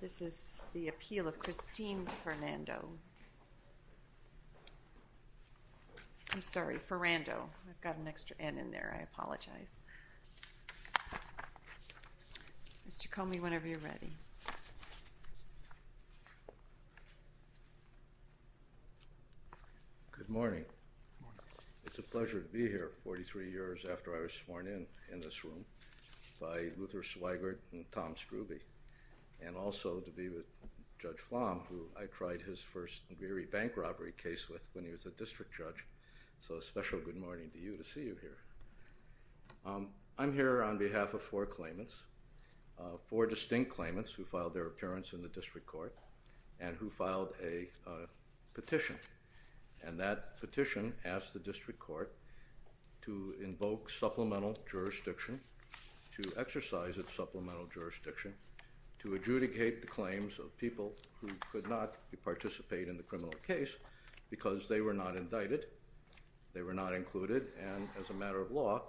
This is the appeal of Christine Ferrando I'm sorry, Ferrando. I've got an extra N in there. I apologize. Mr. Comey, whenever you're ready. Good morning. It's a pleasure to be here 43 years after I was sworn in in this room by Luther Swigert and Tom Scruby. And also to be with Judge Flom who I tried his first very bank robbery case with when he was a district judge. So a special good morning to you to see you here. I'm here on behalf of four claimants, four distinct claimants who filed their appearance in the district court and who filed a petition. And that petition asked the district court to invoke supplemental jurisdiction, to exercise of supplemental jurisdiction, to adjudicate the claims of people who could not participate in the criminal case because they were not indicted. They were not included. And as a matter of law,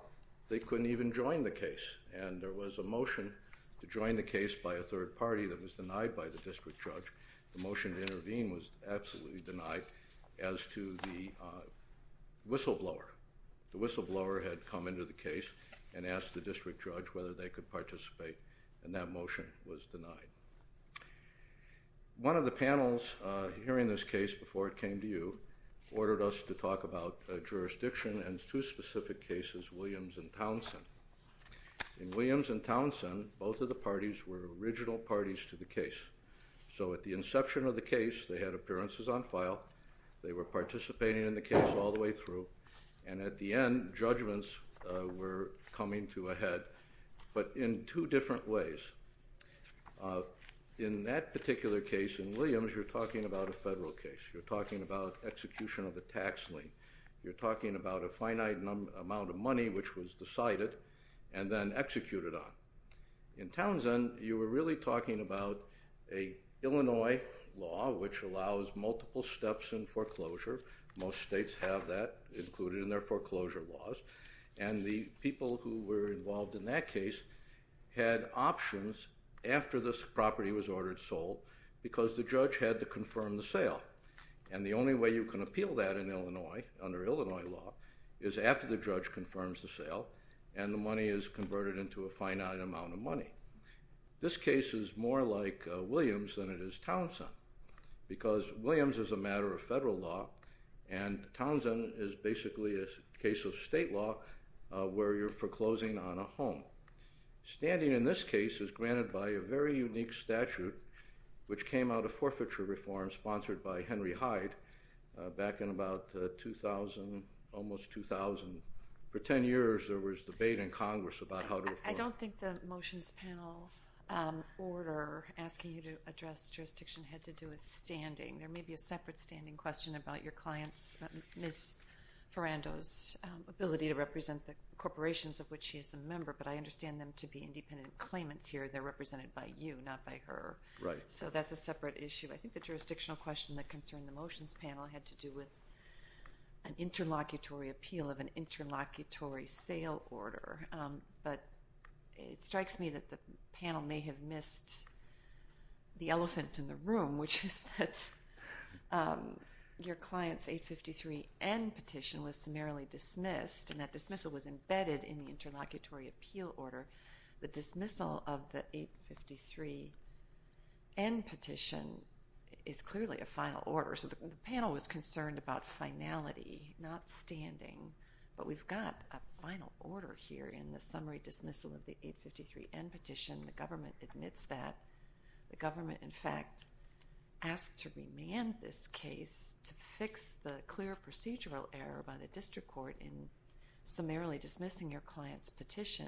they couldn't even join the case. And there was a motion to join the case by a third party that was denied by the district judge. The motion to intervene was absolutely denied as to the whistleblower. The whistleblower had come into the case and asked the district judge whether they could participate. And that motion was denied. One of the panels hearing this case before it came to you ordered us to talk about jurisdiction and two specific cases, Williams and Townsend. In Williams and Townsend, both of the parties were original parties to the case. So at the inception of the case, they had appearances on file. They were participating in the case all the way through. And at the end, judgments were coming to a head, but in two different ways. In that particular case in Williams, you're talking about a federal case. You're talking about execution of a tax lien. You're talking about a finite amount of money which was decided and then executed on. In Townsend, you were really talking about an Illinois law which allows multiple steps in foreclosure. Most states have that included in their foreclosure laws. And the people who were involved in that case had options after this property was ordered sold because the judge had to confirm the sale. And the only way you can appeal that in Illinois under Illinois law is after the judge confirms the sale and the money is converted into a finite amount of money. This case is more like Williams than it is Townsend because Williams is a matter of federal law. And Townsend is basically a case of state law where you're foreclosing on a home. Standing in this case is granted by a very unique statute which came out of forfeiture reform sponsored by Henry Hyde back in about 2000, almost 2000. For 10 years, there was debate in Congress about how to afford. I don't think the motions panel order asking you to address jurisdiction had to do with standing. There may be a separate standing question about your client's, Ms. Ferrando's, ability to represent the corporations of which she is a member. But I understand them to be independent claimants here. They're represented by you, not by her. Right. So that's a separate issue. I think the jurisdictional question that concerned the motions panel had to do with an interlocutory appeal of an interlocutory sale order. But it strikes me that the panel may have missed the elephant in the room, which is that your client's 853N petition was summarily dismissed, and that dismissal was embedded in the interlocutory appeal order. The dismissal of the 853N petition is clearly a final order. So the panel was concerned about finality, not standing. But we've got a final order here in the summary dismissal of the 853N petition. The government admits that. The government, in fact, asked to remand this case to fix the clear procedural error by the district court in summarily dismissing your client's petition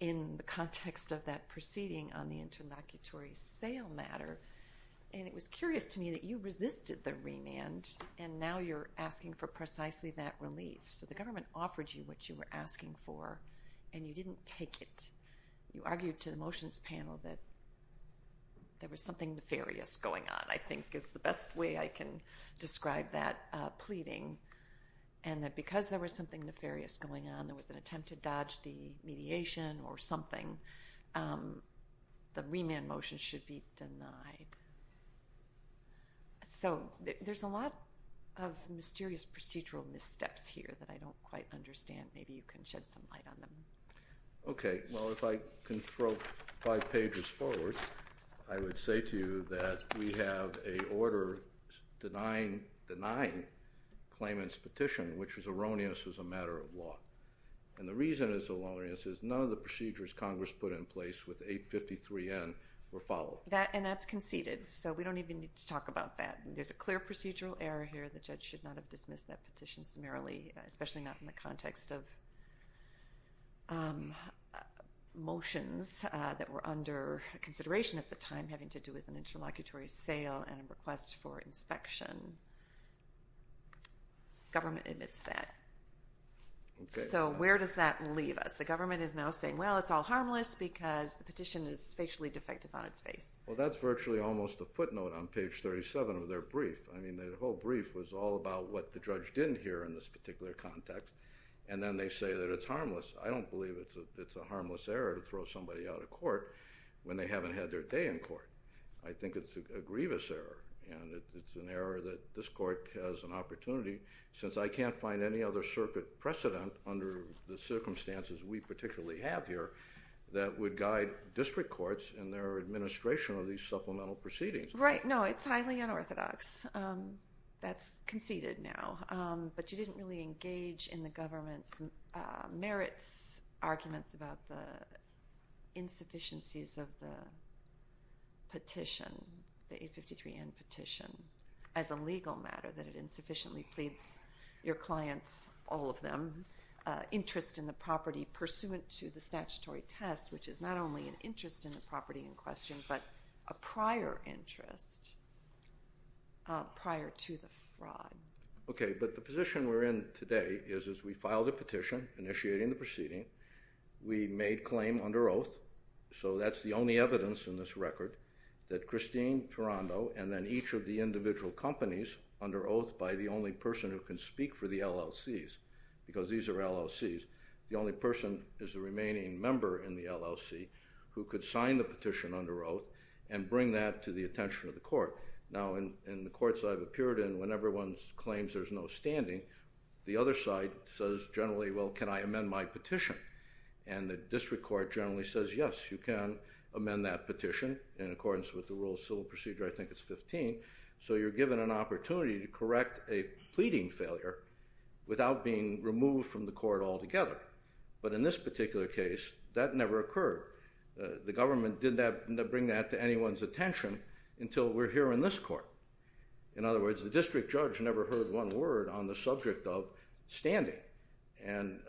in the context of that proceeding on the interlocutory sale matter. And it was curious to me that you resisted the remand, and now you're asking for precisely that relief. So the government offered you what you were asking for, and you didn't take it. You argued to the motions panel that there was something nefarious going on, I think, is the best way I can describe that pleading, and that because there was something nefarious going on, there was an attempt to dodge the mediation or something, the remand motion should be denied. So there's a lot of mysterious procedural missteps here that I don't quite understand. Maybe you can shed some light on them. Okay. Well, if I can throw five pages forward, I would say to you that we have a order denying Clayman's petition, which is erroneous as a matter of law. And the reason it's erroneous is none of the procedures Congress put in place with 853N were followed. And that's conceded, so we don't even need to talk about that. There's a clear procedural error here. The judge should not have dismissed that petition summarily, especially not in the context of motions that were under consideration at the time, having to do with an interlocutory sale and a request for inspection. Government admits that. So where does that leave us? The government is now saying, well, it's all harmless because the petition is facially defective on its face. Well, that's virtually almost a footnote on page 37 of their brief. I mean, the whole brief was all about what the judge didn't hear in this particular context. And then they say that it's harmless. I don't believe it's a harmless error to throw somebody out of court when they haven't had their day in court. I think it's a grievous error, and it's an error that this court has an opportunity, since I can't find any other circuit precedent under the circumstances we particularly have here that would guide district courts in their administration of these supplemental proceedings. Right. No, it's highly unorthodox. That's conceded now. But you didn't really engage in the government's merits arguments about the insufficiencies of the petition, the 853N petition, as a legal matter, that it insufficiently pleads your clients, all of them, interest in the property pursuant to the statutory test, which is not only an interest in the property in question but a prior interest prior to the fraud. Okay. But the position we're in today is we filed a petition initiating the proceeding. We made claim under oath. So that's the only evidence in this record that Christine Ferrando and then each of the individual companies under oath by the only person who can speak for the LLCs, because these are LLCs. The only person is the remaining member in the LLC who could sign the petition under oath and bring that to the attention of the court. Now, in the courts I've appeared in, when everyone claims there's no standing, the other side says generally, well, can I amend my petition? And the district court generally says, yes, you can amend that petition in accordance with the rule of civil procedure. I think it's 15. So you're given an opportunity to correct a pleading failure without being removed from the court altogether. But in this particular case, that never occurred. The government didn't bring that to anyone's attention until we're here in this court. In other words, the district judge never heard one word on the subject of standing. And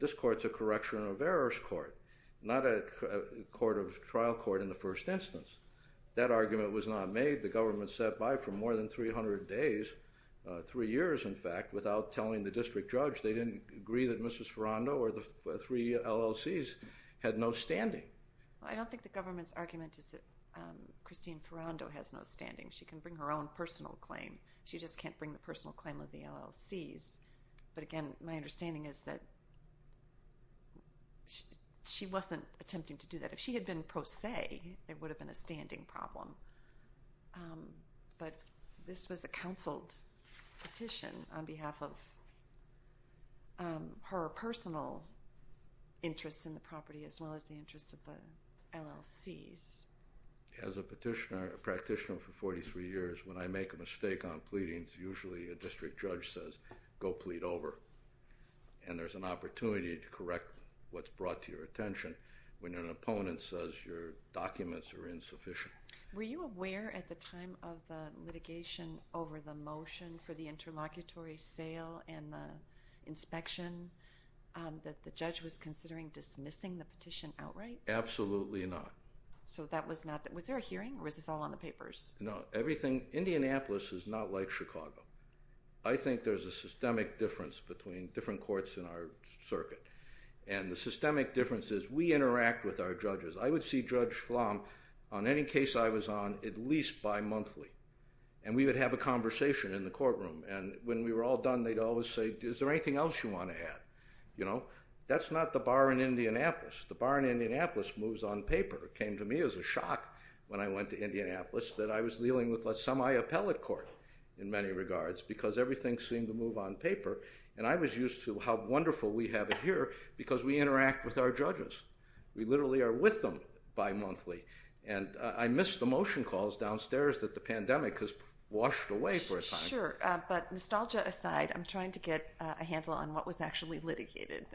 this court's a correction of errors court, not a trial court in the first instance. That argument was not made. The government sat by for more than 300 days, three years in fact, without telling the district judge they didn't agree that Mrs. Ferrando or the three LLCs had no standing. I don't think the government's argument is that Christine Ferrando has no standing. She can bring her own personal claim. She just can't bring the personal claim of the LLCs. But again, my understanding is that she wasn't attempting to do that. If she had been pro se, there would have been a standing problem. But this was a counseled petition on behalf of her personal interests in the property as well as the interests of the LLCs. As a practitioner for 43 years, when I make a mistake on pleadings, usually a district judge says, go plead over. And there's an opportunity to correct what's brought to your attention. When an opponent says your documents are insufficient. Were you aware at the time of the litigation over the motion for the interlocutory sale and the inspection that the judge was considering dismissing the petition outright? Absolutely not. So that was not, was there a hearing or was this all on the papers? No, everything, Indianapolis is not like Chicago. I think there's a systemic difference between different courts in our circuit. And the systemic difference is we interact with our judges. I would see Judge Flom on any case I was on at least bi-monthly. And we would have a conversation in the courtroom. And when we were all done, they'd always say, is there anything else you want to add? You know, that's not the bar in Indianapolis. The bar in Indianapolis moves on paper. It came to me as a shock when I went to Indianapolis that I was dealing with a semi-appellate court in many regards. Because everything seemed to move on paper. And I was used to how wonderful we have it here because we interact with our judges. We literally are with them bi-monthly. And I missed the motion calls downstairs that the pandemic has washed away for a time. Sure. But nostalgia aside, I'm trying to get a handle on what was actually litigated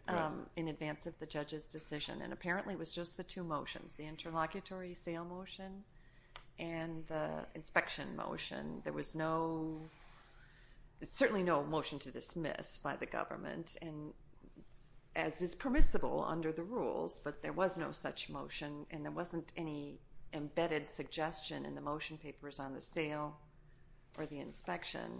in advance of the judge's decision. And apparently it was just the two motions, the interlocutory sale motion and the inspection motion. There was no, certainly no motion to dismiss by the government. And as is permissible under the rules, but there was no such motion. And there wasn't any embedded suggestion in the motion papers on the sale or the inspection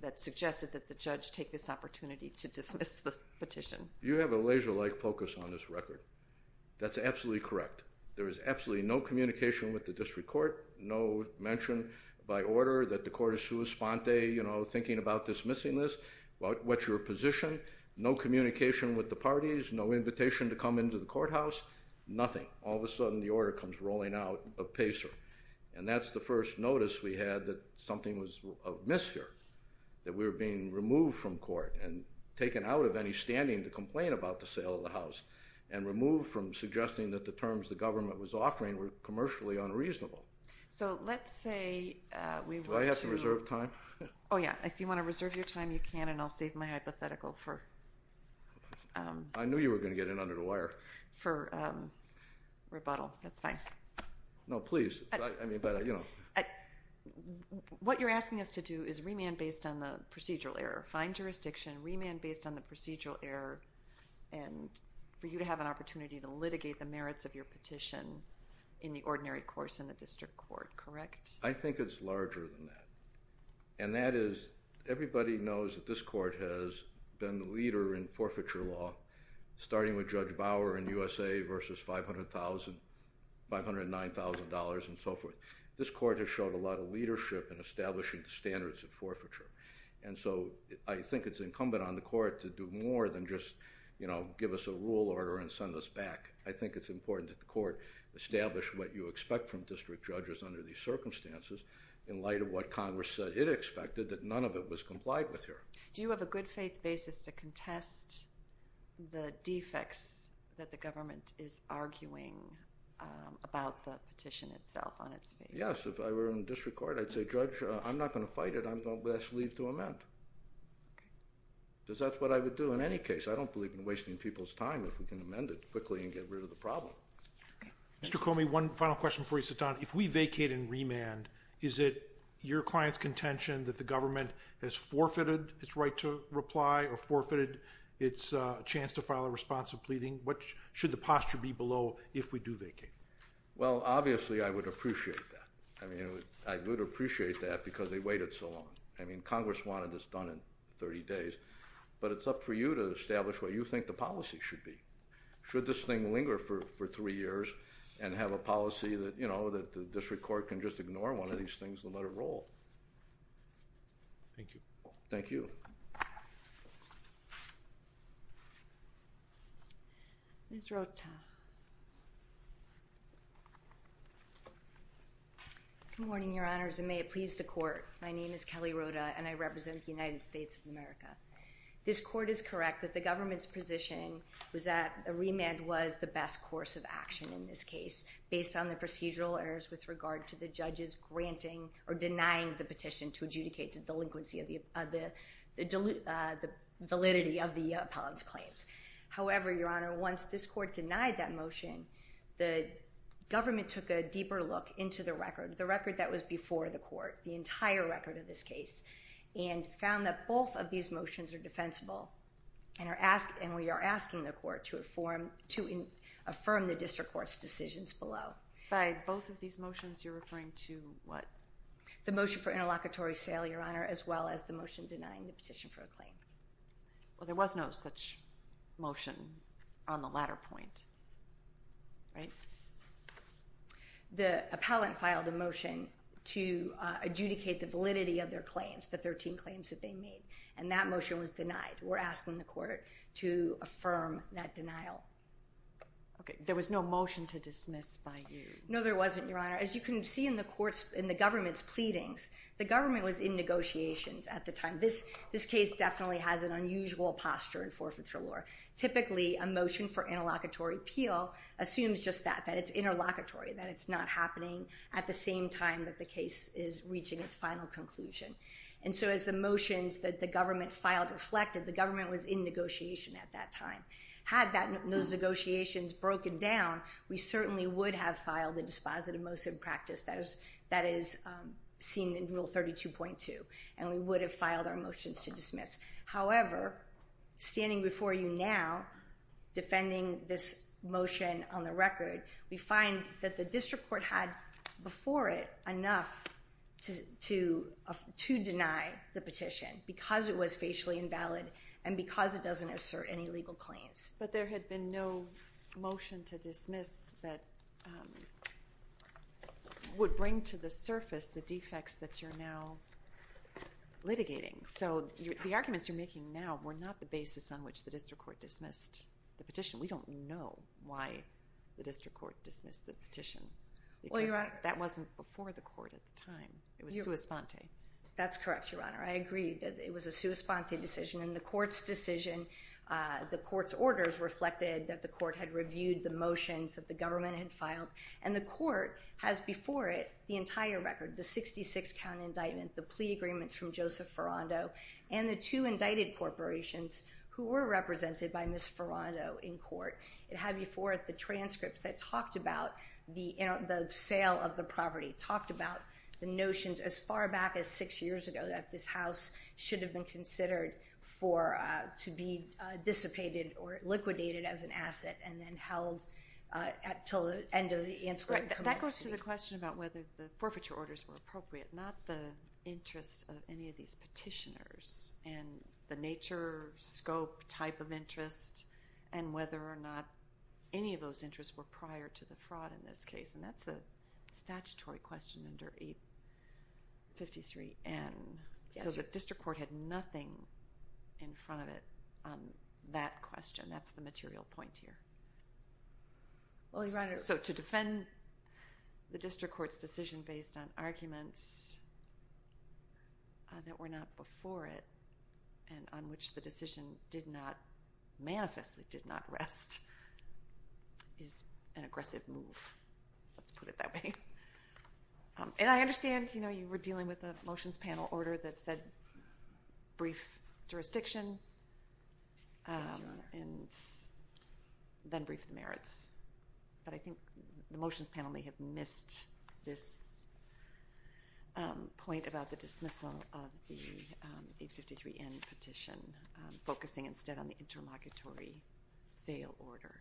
that suggested that the judge take this opportunity to dismiss the petition. You have a laser-like focus on this record. That's absolutely correct. There was absolutely no communication with the district court. No mention by order that the court is sui sponte, you know, thinking about dismissing this. What's your position? No communication with the parties. No invitation to come into the courthouse. Nothing. All of a sudden the order comes rolling out of PACER. And that's the first notice we had that something was amiss here, that we were being removed from court and taken out of any standing to complain about the sale of the house and removed from suggesting that the terms the government was offering were commercially unreasonable. So let's say we were to— Do I have to reserve time? Oh, yeah. If you want to reserve your time, you can, and I'll save my hypothetical for— I knew you were going to get in under the wire. —for rebuttal. That's fine. No, please. I mean, but, you know. What you're asking us to do is remand based on the procedural error. Fine jurisdiction, remand based on the procedural error, and for you to have an opportunity to litigate the merits of your petition in the ordinary course in the district court. Correct? I think it's larger than that. And that is everybody knows that this court has been the leader in forfeiture law, starting with Judge Bauer in USA versus $509,000 and so forth. This court has showed a lot of leadership in establishing the standards of forfeiture. And so I think it's incumbent on the court to do more than just, you know, give us a rule order and send us back. I think it's important that the court establish what you expect from district judges under these circumstances in light of what Congress said it expected, that none of it was complied with here. Do you have a good faith basis to contest the defects that the government is arguing about the petition itself on its face? Yes. If I were in district court, I'd say, Judge, I'm not going to fight it. I'm going to ask leave to amend because that's what I would do in any case. I don't believe in wasting people's time if we can amend it quickly and get rid of the problem. Mr. Comey, one final question before you sit down. If we vacate and remand, is it your client's contention that the government has forfeited its right to reply or forfeited its chance to file a response of pleading? What should the posture be below if we do vacate? Well, obviously, I would appreciate that. I mean, I would appreciate that because they waited so long. I mean, Congress wanted this done in 30 days, but it's up for you to establish what you think the policy should be. Should this thing linger for three years and have a policy that, you know, that the district court can just ignore one of these things and let it roll? Thank you. Thank you. Ms. Rota. Good morning, Your Honors, and may it please the court. My name is Kelly Rota, and I represent the United States of America. This court is correct that the government's position was that a remand was the best course of action in this case based on the procedural errors with regard to the judges granting or denying the petition to adjudicate the delinquency of the validity of the appellant's claims. However, Your Honor, once this court denied that motion, the government took a deeper look into the record, the record that was before the court, the entire record of this case, and found that both of these motions are defensible, and we are asking the court to affirm the district court's decisions below. By both of these motions, you're referring to what? The motion for interlocutory sale, Your Honor, as well as the motion denying the petition for a claim. Well, there was no such motion on the latter point, right? The appellant filed a motion to adjudicate the validity of their claims, the 13 claims that they made, and that motion was denied. We're asking the court to affirm that denial. Okay, there was no motion to dismiss by you. No, there wasn't, Your Honor. As you can see in the government's pleadings, the government was in negotiations at the time. This case definitely has an unusual posture in forfeiture law. Typically, a motion for interlocutory appeal assumes just that, that it's interlocutory, that it's not happening at the same time that the case is reaching its final conclusion. And so as the motions that the government filed reflected, the government was in negotiation at that time. Had those negotiations broken down, we certainly would have filed a dispositive motion of practice that is seen in Rule 32.2, and we would have filed our motions to dismiss. However, standing before you now, defending this motion on the record, we find that the district court had before it enough to deny the petition because it was facially invalid and because it doesn't assert any legal claims. But there had been no motion to dismiss that would bring to the surface the defects that you're now litigating. So the arguments you're making now were not the basis on which the district court dismissed the petition. We don't know why the district court dismissed the petition because that wasn't before the court at the time. It was sua sponte. That's correct, Your Honor. I agree that it was a sua sponte decision. And the court's decision, the court's orders reflected that the court had reviewed the motions that the government had filed. And the court has before it the entire record, the 66-count indictment, the plea agreements from Joseph Ferrando, and the two indicted corporations who were represented by Ms. Ferrando in court. It had before it the transcript that talked about the sale of the property, talked about the notions as far back as six years ago that this house should have been considered for to be dissipated or liquidated as an asset and then held until the end of the answer. That goes to the question about whether the forfeiture orders were appropriate, not the interest of any of these petitioners and the nature, scope, type of interest, and whether or not any of those interests were prior to the fraud in this case. And that's the statutory question under 853N. So the district court had nothing in front of it on that question. That's the material point here. So to defend the district court's decision based on arguments that were not before it and on which the decision did not manifestly did not rest is an aggressive move. Let's put it that way. And I understand you were dealing with a motions panel order that said brief jurisdiction and then brief the merits. But I think the motions panel may have missed this point about the dismissal of the 853N petition, focusing instead on the interlocutory sale order.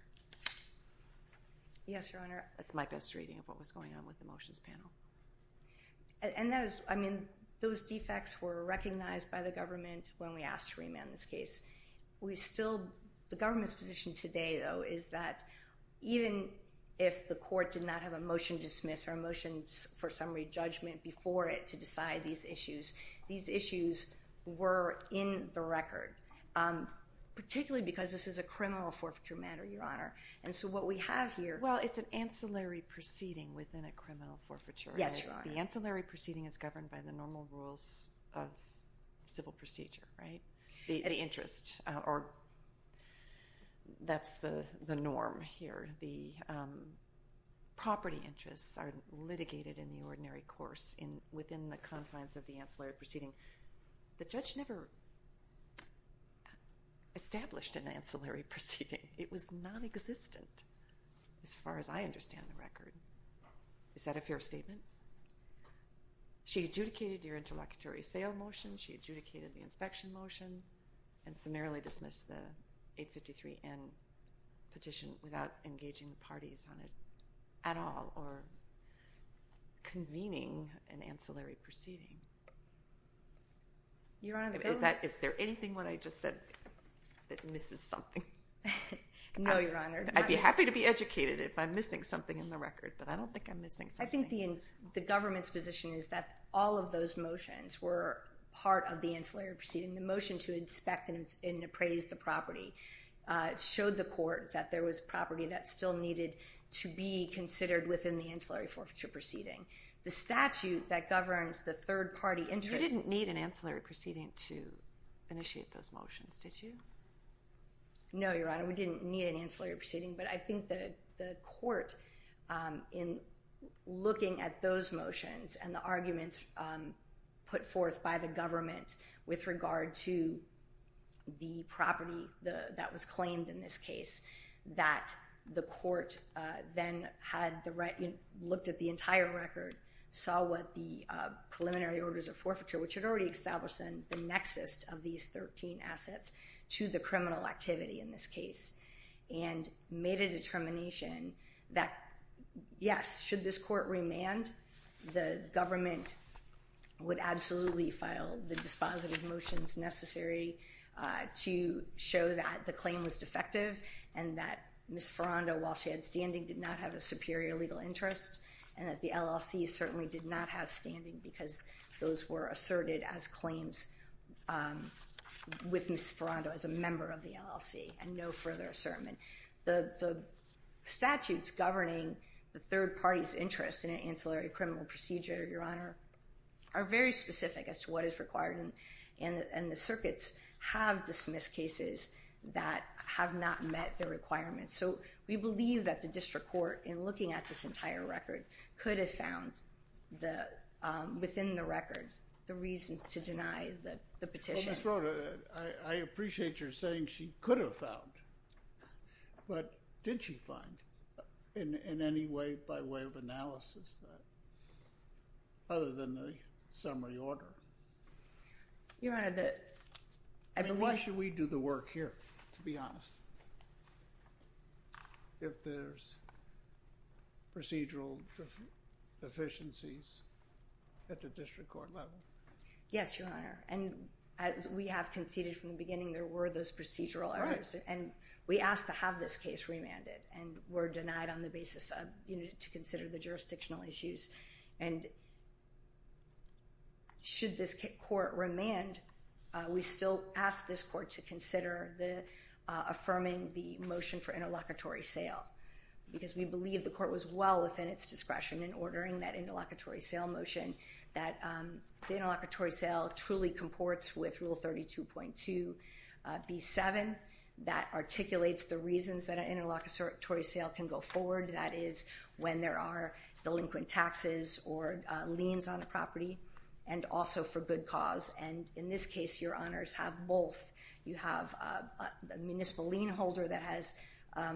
Yes, Your Honor. That's my best reading of what was going on with the motions panel. And those defects were recognized by the government when we asked to remand this case. The government's position today, though, is that even if the court did not have a motion to dismiss or a motion for summary judgment before it to decide these issues, these issues were in the record, particularly because this is a criminal forfeiture matter, Your Honor. And so what we have here ---- Well, it's an ancillary proceeding within a criminal forfeiture. Yes, Your Honor. The ancillary proceeding is governed by the normal rules of civil procedure, right? The interest, or that's the norm here. The property interests are litigated in the ordinary course within the confines of the ancillary proceeding. The judge never established an ancillary proceeding. It was nonexistent as far as I understand the record. Is that a fair statement? She adjudicated your interlocutory sale motion. She adjudicated the inspection motion and summarily dismissed the 853N petition without engaging the parties on it at all or convening an ancillary proceeding. Is there anything that I just said that misses something? No, Your Honor. I'd be happy to be educated if I'm missing something in the record, but I don't think I'm missing something. I think the government's position is that all of those motions were part of the ancillary proceeding. The motion to inspect and appraise the property showed the court that there was property that still needed to be considered within the ancillary forfeiture proceeding. The statute that governs the third-party interests ---- You didn't need an ancillary proceeding to initiate those motions, did you? No, Your Honor. We didn't need an ancillary proceeding. But I think the court, in looking at those motions and the arguments put forth by the government with regard to the property that was claimed in this case, that the court then looked at the entire record, saw what the preliminary orders of forfeiture, which had already established the nexus of these 13 assets, to the criminal activity in this case and made a determination that, yes, should this court remand, the government would absolutely file the dispositive motions necessary to show that the claim was defective and that Ms. Ferrando, while she had standing, did not have a superior legal interest and that the LLC certainly did not have standing because those were asserted as claims with Ms. Ferrando as a member of the LLC and no further assertment. The statutes governing the third party's interest in an ancillary criminal procedure, Your Honor, are very specific as to what is required, and the circuits have dismissed cases that have not met the requirements. So we believe that the district court, in looking at this entire record, could have found within the record the reasons to deny the petition. Well, Ms. Rota, I appreciate your saying she could have found, but did she find in any way by way of analysis other than the summary order? Your Honor, the… I mean, why should we do the work here, to be honest, if there's procedural deficiencies at the district court level? Yes, Your Honor, and as we have conceded from the beginning, there were those procedural errors, and we asked to have this case remanded and were denied on the basis of, you know, to consider the jurisdictional issues, and should this court remand, we still ask this court to consider the affirming the motion for interlocutory sale because we believe the court was well within its discretion in ordering that interlocutory sale motion that the interlocutory sale truly comports with Rule 32.2b-7 that articulates the reasons that an interlocutory sale can go forward, that is, when there are delinquent taxes or liens on a property, and also for good cause. And in this case, Your Honors, have both. You have a municipal lien holder that has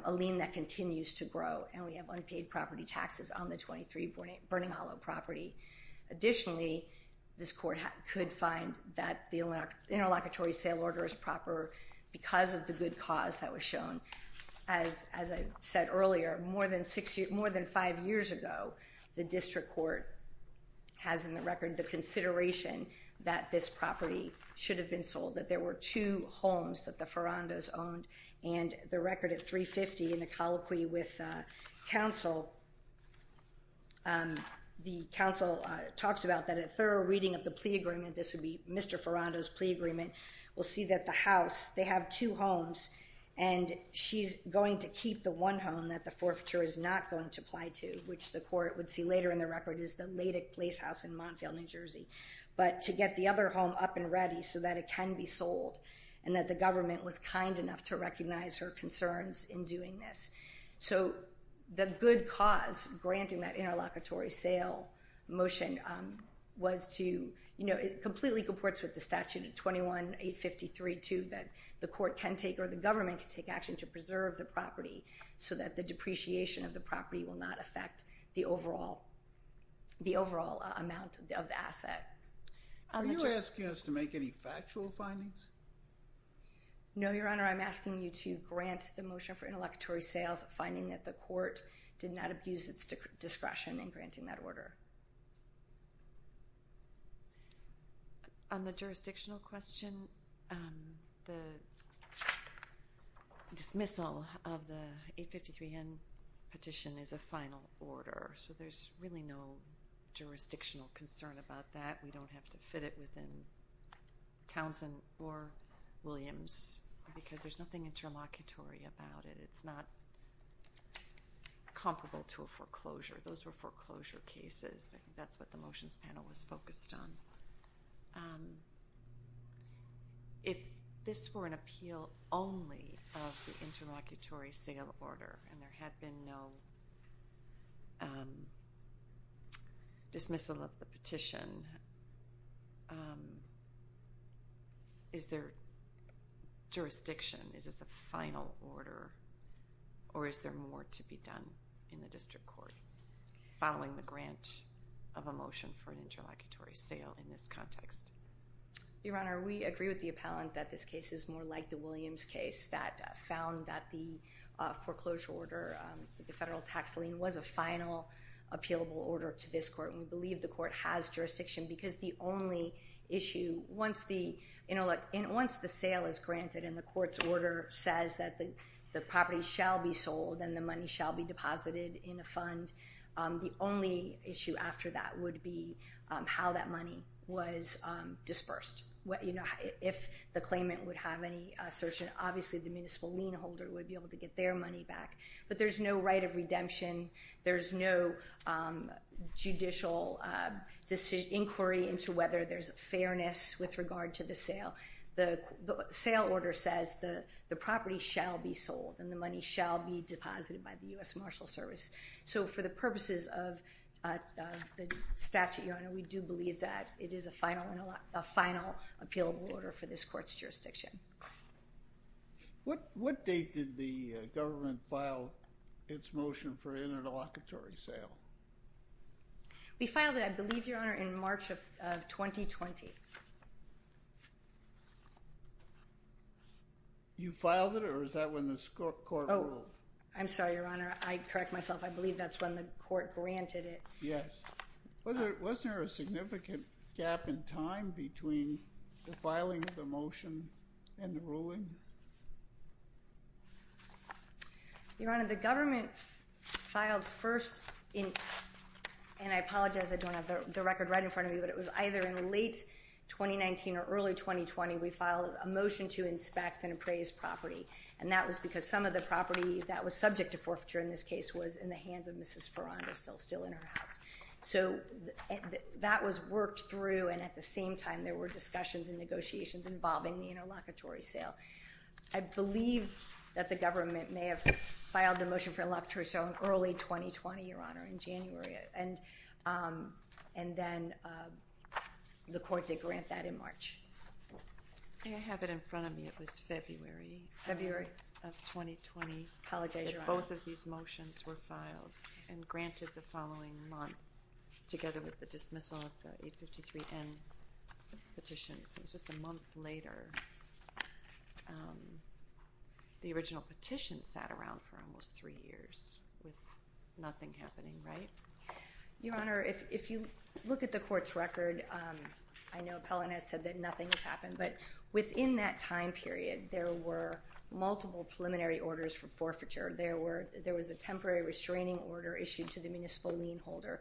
a lien that continues to grow, and we have unpaid property taxes on the 23 Burning Hollow property. Additionally, this court could find that the interlocutory sale order is proper because of the good cause that was shown. As I said earlier, more than five years ago, the district court has in the record the consideration that this property should have been sold, that there were two homes that the Ferrandos owned, and the record at 350 in the colloquy with counsel, the counsel talks about that a thorough reading of the plea agreement, this would be Mr. Ferrando's plea agreement, will see that the house, they have two homes, and she's going to keep the one home that the forfeiture is not going to apply to, which the court would see later in the record is the Liddick Place House in Montfield, New Jersey. But to get the other home up and ready so that it can be sold, and that the government was kind enough to recognize her concerns in doing this. So the good cause granting that interlocutory sale motion was to, you know, it completely comports with the statute at 21-853-2 that the court can take or the government can take action to preserve the property so that the depreciation of the property will not affect the overall amount of the asset. Are you asking us to make any factual findings? No, Your Honor, I'm asking you to grant the motion for interlocutory sales, finding that the court did not abuse its discretion in granting that order. On the jurisdictional question, the dismissal of the 853N petition is a final order, so there's really no jurisdictional concern about that. We don't have to fit it within Townsend or Williams because there's nothing interlocutory about it. It's not comparable to a foreclosure. Those were foreclosure cases. That's what the motions panel was focused on. If this were an appeal only of the interlocutory sale order and there had been no dismissal of the petition, is there jurisdiction, is this a final order, or is there more to be done in the district court following the grant of a motion for an interlocutory sale in this context? Your Honor, we agree with the appellant that this case is more like the Williams case that found that the foreclosure order, the federal tax lien, was a final appealable order to this court. We believe the court has jurisdiction because the only issue, once the sale is granted and the court's order says that the property shall be sold and the money shall be deposited in a fund, the only issue after that would be how that money was dispersed. If the claimant would have any assertion, obviously the municipal lien holder would be able to get their money back. But there's no right of redemption. There's no judicial inquiry into whether there's fairness with regard to the sale. The sale order says the property shall be sold and the money shall be deposited by the U.S. Marshals Service. So for the purposes of the statute, Your Honor, we do believe that it is a final appealable order for this court's jurisdiction. What date did the government file its motion for interlocutory sale? We filed it, I believe, Your Honor, in March of 2020. You filed it or was that when the court ruled? I'm sorry, Your Honor. I correct myself. I believe that's when the court granted it. Yes. Wasn't there a significant gap in time between the filing of the motion and the ruling? Your Honor, the government filed first in, and I apologize I don't have the record right in front of me, but it was either in late 2019 or early 2020, we filed a motion to inspect and appraise property, and that was because some of the property that was subject to forfeiture in this case was in the hands of Mrs. Ferrando, still in her house. So that was worked through, and at the same time there were discussions and negotiations involving the interlocutory sale. I believe that the government may have filed the motion for interlocutory sale in early 2020, Your Honor, in January, and then the court did grant that in March. May I have it in front of me? February. Of 2020. Apologize, Your Honor. Both of these motions were filed and granted the following month, together with the dismissal of the 853N petition. So it was just a month later. The original petition sat around for almost three years with nothing happening, right? Your Honor, if you look at the court's record, I know Appellant has said that nothing has happened, but within that time period there were multiple preliminary orders for forfeiture. There was a temporary restraining order issued to the municipal lien holder.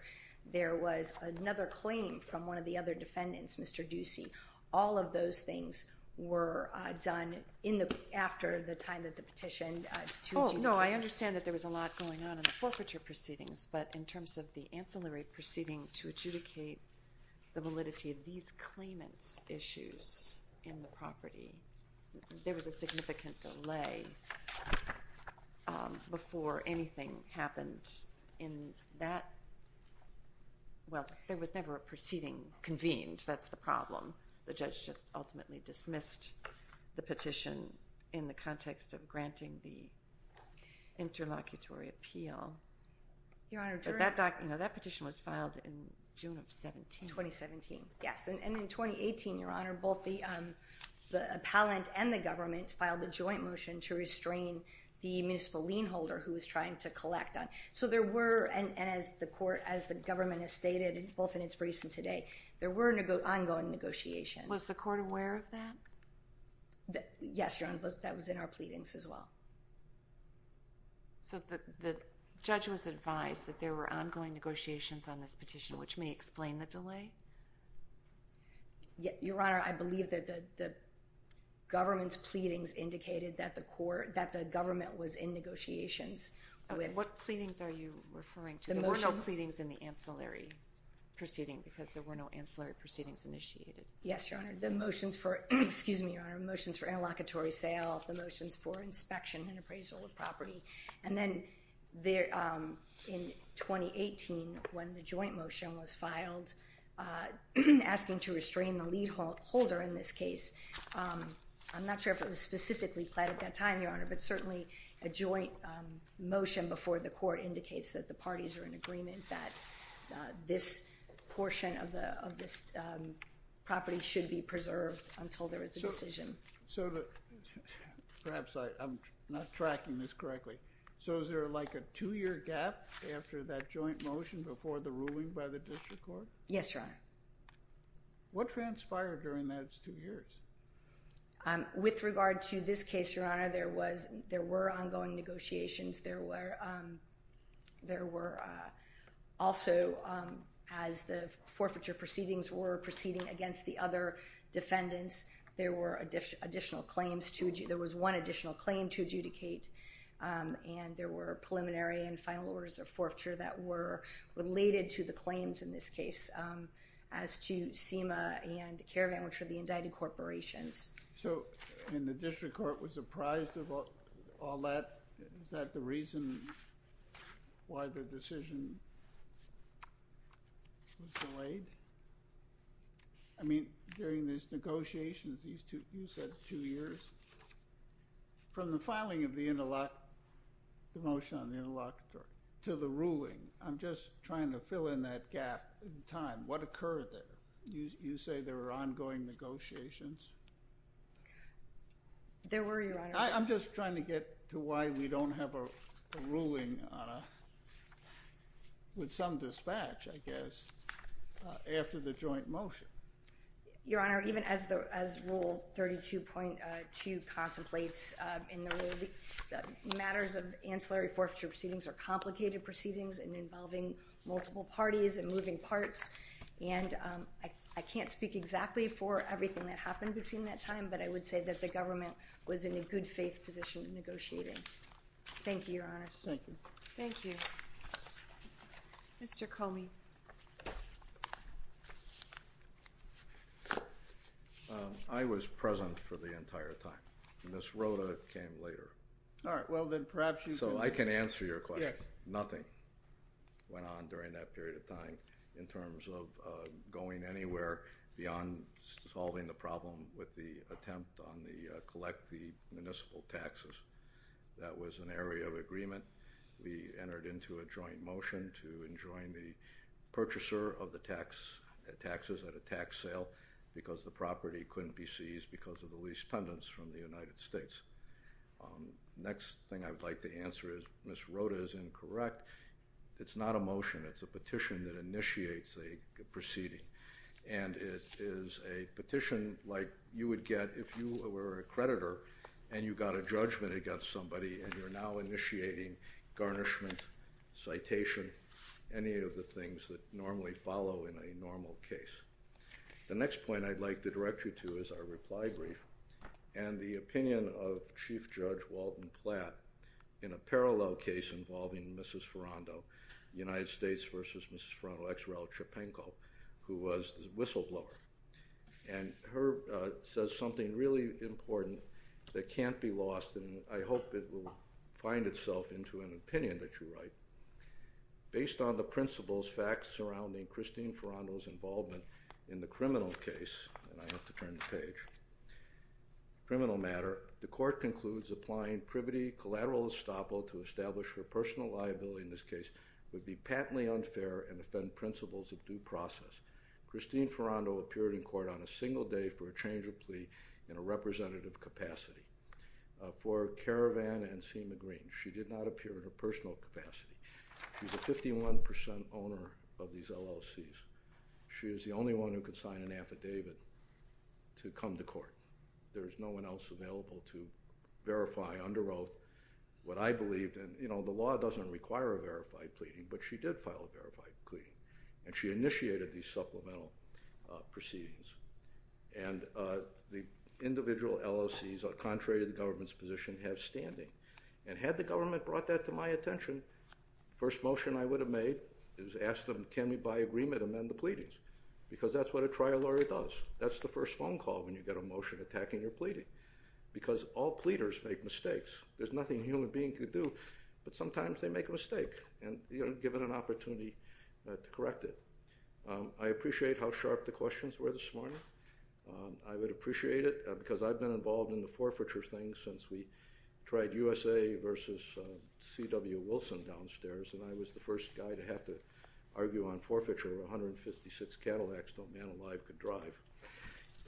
There was another claim from one of the other defendants, Mr. Ducey. All of those things were done after the time that the petition to adjudicate. Oh, no, I understand that there was a lot going on in the forfeiture proceedings, but in terms of the ancillary proceeding to adjudicate the validity of these claimants' issues in the property, there was a significant delay before anything happened in that. Well, there was never a proceeding convened. That's the problem. The judge just ultimately dismissed the petition in the context of granting the interlocutory appeal. That petition was filed in June of 2017. In 2017, yes. And in 2018, Your Honor, both the appellant and the government filed a joint motion to restrain the municipal lien holder who was trying to collect on. And as the government has stated, both in its briefs and today, there were ongoing negotiations. Was the court aware of that? Yes, Your Honor. That was in our pleadings as well. So the judge was advised that there were ongoing negotiations on this petition, which may explain the delay? Your Honor, I believe that the government's pleadings indicated that the government was in negotiations. What pleadings are you referring to? There were no pleadings in the ancillary proceeding because there were no ancillary proceedings initiated. Yes, Your Honor. The motions for interlocutory sale, the motions for inspection and appraisal of property, and then in 2018, when the joint motion was filed asking to restrain the lien holder in this case, I'm not sure if it was specifically planned at that time, Your Honor, but certainly a joint motion before the court indicates that the parties are in agreement that this portion of this property should be preserved until there is a decision. So perhaps I'm not tracking this correctly. So is there like a two-year gap after that joint motion before the ruling by the district court? Yes, Your Honor. What transpired during those two years? With regard to this case, Your Honor, there were ongoing negotiations. There were also, as the forfeiture proceedings were proceeding against the other defendants, there was one additional claim to adjudicate, and there were preliminary and final orders of forfeiture that were related to the claims in this case as to SEMA and Caravan, which were the indicted corporations. So, and the district court was apprised of all that? Is that the reason why the decision was delayed? I mean, during these negotiations, you said two years. From the filing of the motion on the interlocutory to the ruling, I'm just trying to fill in that gap in time. What occurred there? You say there were ongoing negotiations? There were, Your Honor. I'm just trying to get to why we don't have a ruling with some dispatch, I guess, after the joint motion. Your Honor, even as Rule 32.2 contemplates in the ruling, matters of ancillary forfeiture proceedings are complicated proceedings involving multiple parties and moving parts, and I can't speak exactly for everything that happened between that time, but I would say that the government was in a good-faith position in negotiating. Thank you, Your Honor. Thank you. Thank you. Mr. Comey. I was present for the entire time. Ms. Rhoda came later. All right. Well, then, perhaps you can— So I can answer your question. Yes. Nothing went on during that period of time in terms of going anywhere beyond solving the problem with the attempt on the—collect the municipal taxes. That was an area of agreement. We entered into a joint motion to enjoin the purchaser of the taxes at a tax sale because the property couldn't be seized because of the lease pendants from the United States. Next thing I'd like to answer is Ms. Rhoda is incorrect. It's not a motion. It's a petition that initiates a proceeding, and it is a petition like you would get if you were a creditor and you got a judgment against somebody and you're now initiating garnishment, citation, any of the things that normally follow in a normal case. The next point I'd like to direct you to is our reply brief, and the opinion of Chief Judge Walton Platt in a parallel case involving Mrs. Ferrando, United States v. Mrs. Ferrando, ex rel. Chepenko, who was the whistleblower. And her—says something really important that can't be lost, and I hope it will find itself into an opinion that you write. Based on the principles, facts surrounding Christine Ferrando's involvement in the criminal case— and I have to turn the page—criminal matter, the court concludes applying privity collateral estoppel to establish her personal liability in this case would be patently unfair and offend principles of due process. Christine Ferrando appeared in court on a single day for a change of plea in a representative capacity. For Caravan and Seema Green, she did not appear in a personal capacity. She's a 51 percent owner of these LLCs. She is the only one who could sign an affidavit to come to court. There is no one else available to verify under oath what I believed in. You know, the law doesn't require a verified pleading, but she did file a verified pleading, and she initiated these supplemental proceedings. And the individual LLCs, contrary to the government's position, have standing. And had the government brought that to my attention, the first motion I would have made is ask them can we by agreement amend the pleadings because that's what a trial lawyer does. That's the first phone call when you get a motion attacking your pleading because all pleaders make mistakes. There's nothing a human being can do, but sometimes they make a mistake, and you're given an opportunity to correct it. I appreciate how sharp the questions were this morning. I would appreciate it because I've been involved in the forfeiture thing since we tried USA versus C.W. Wilson downstairs, and I was the first guy to have to argue on forfeiture. 156 Cadillacs, no man alive could drive.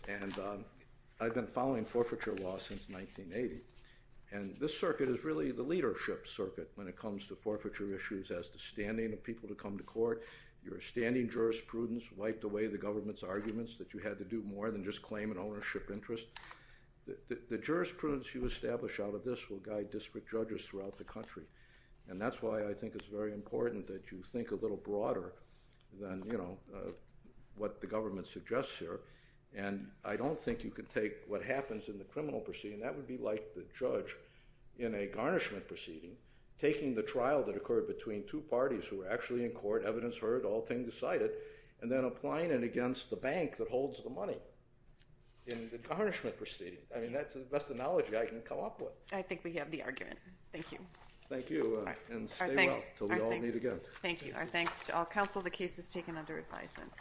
And I've been following forfeiture law since 1980. And this circuit is really the leadership circuit when it comes to forfeiture issues as to standing of people to come to court. Your standing jurisprudence wiped away the government's arguments that you had to do more than just claim an ownership interest. The jurisprudence you establish out of this will guide district judges throughout the country, and that's why I think it's very important that you think a little broader than what the government suggests here. And I don't think you can take what happens in the criminal proceeding. That would be like the judge in a garnishment proceeding taking the trial that occurred between two parties who were actually in court, evidence heard, all things decided, and then applying it against the bank that holds the money. In the garnishment proceeding. I mean, that's the best analogy I can come up with. I think we have the argument. Thank you. Thank you, and stay well until we all meet again. Thank you. Our thanks to all counsel. The case is taken under advisement.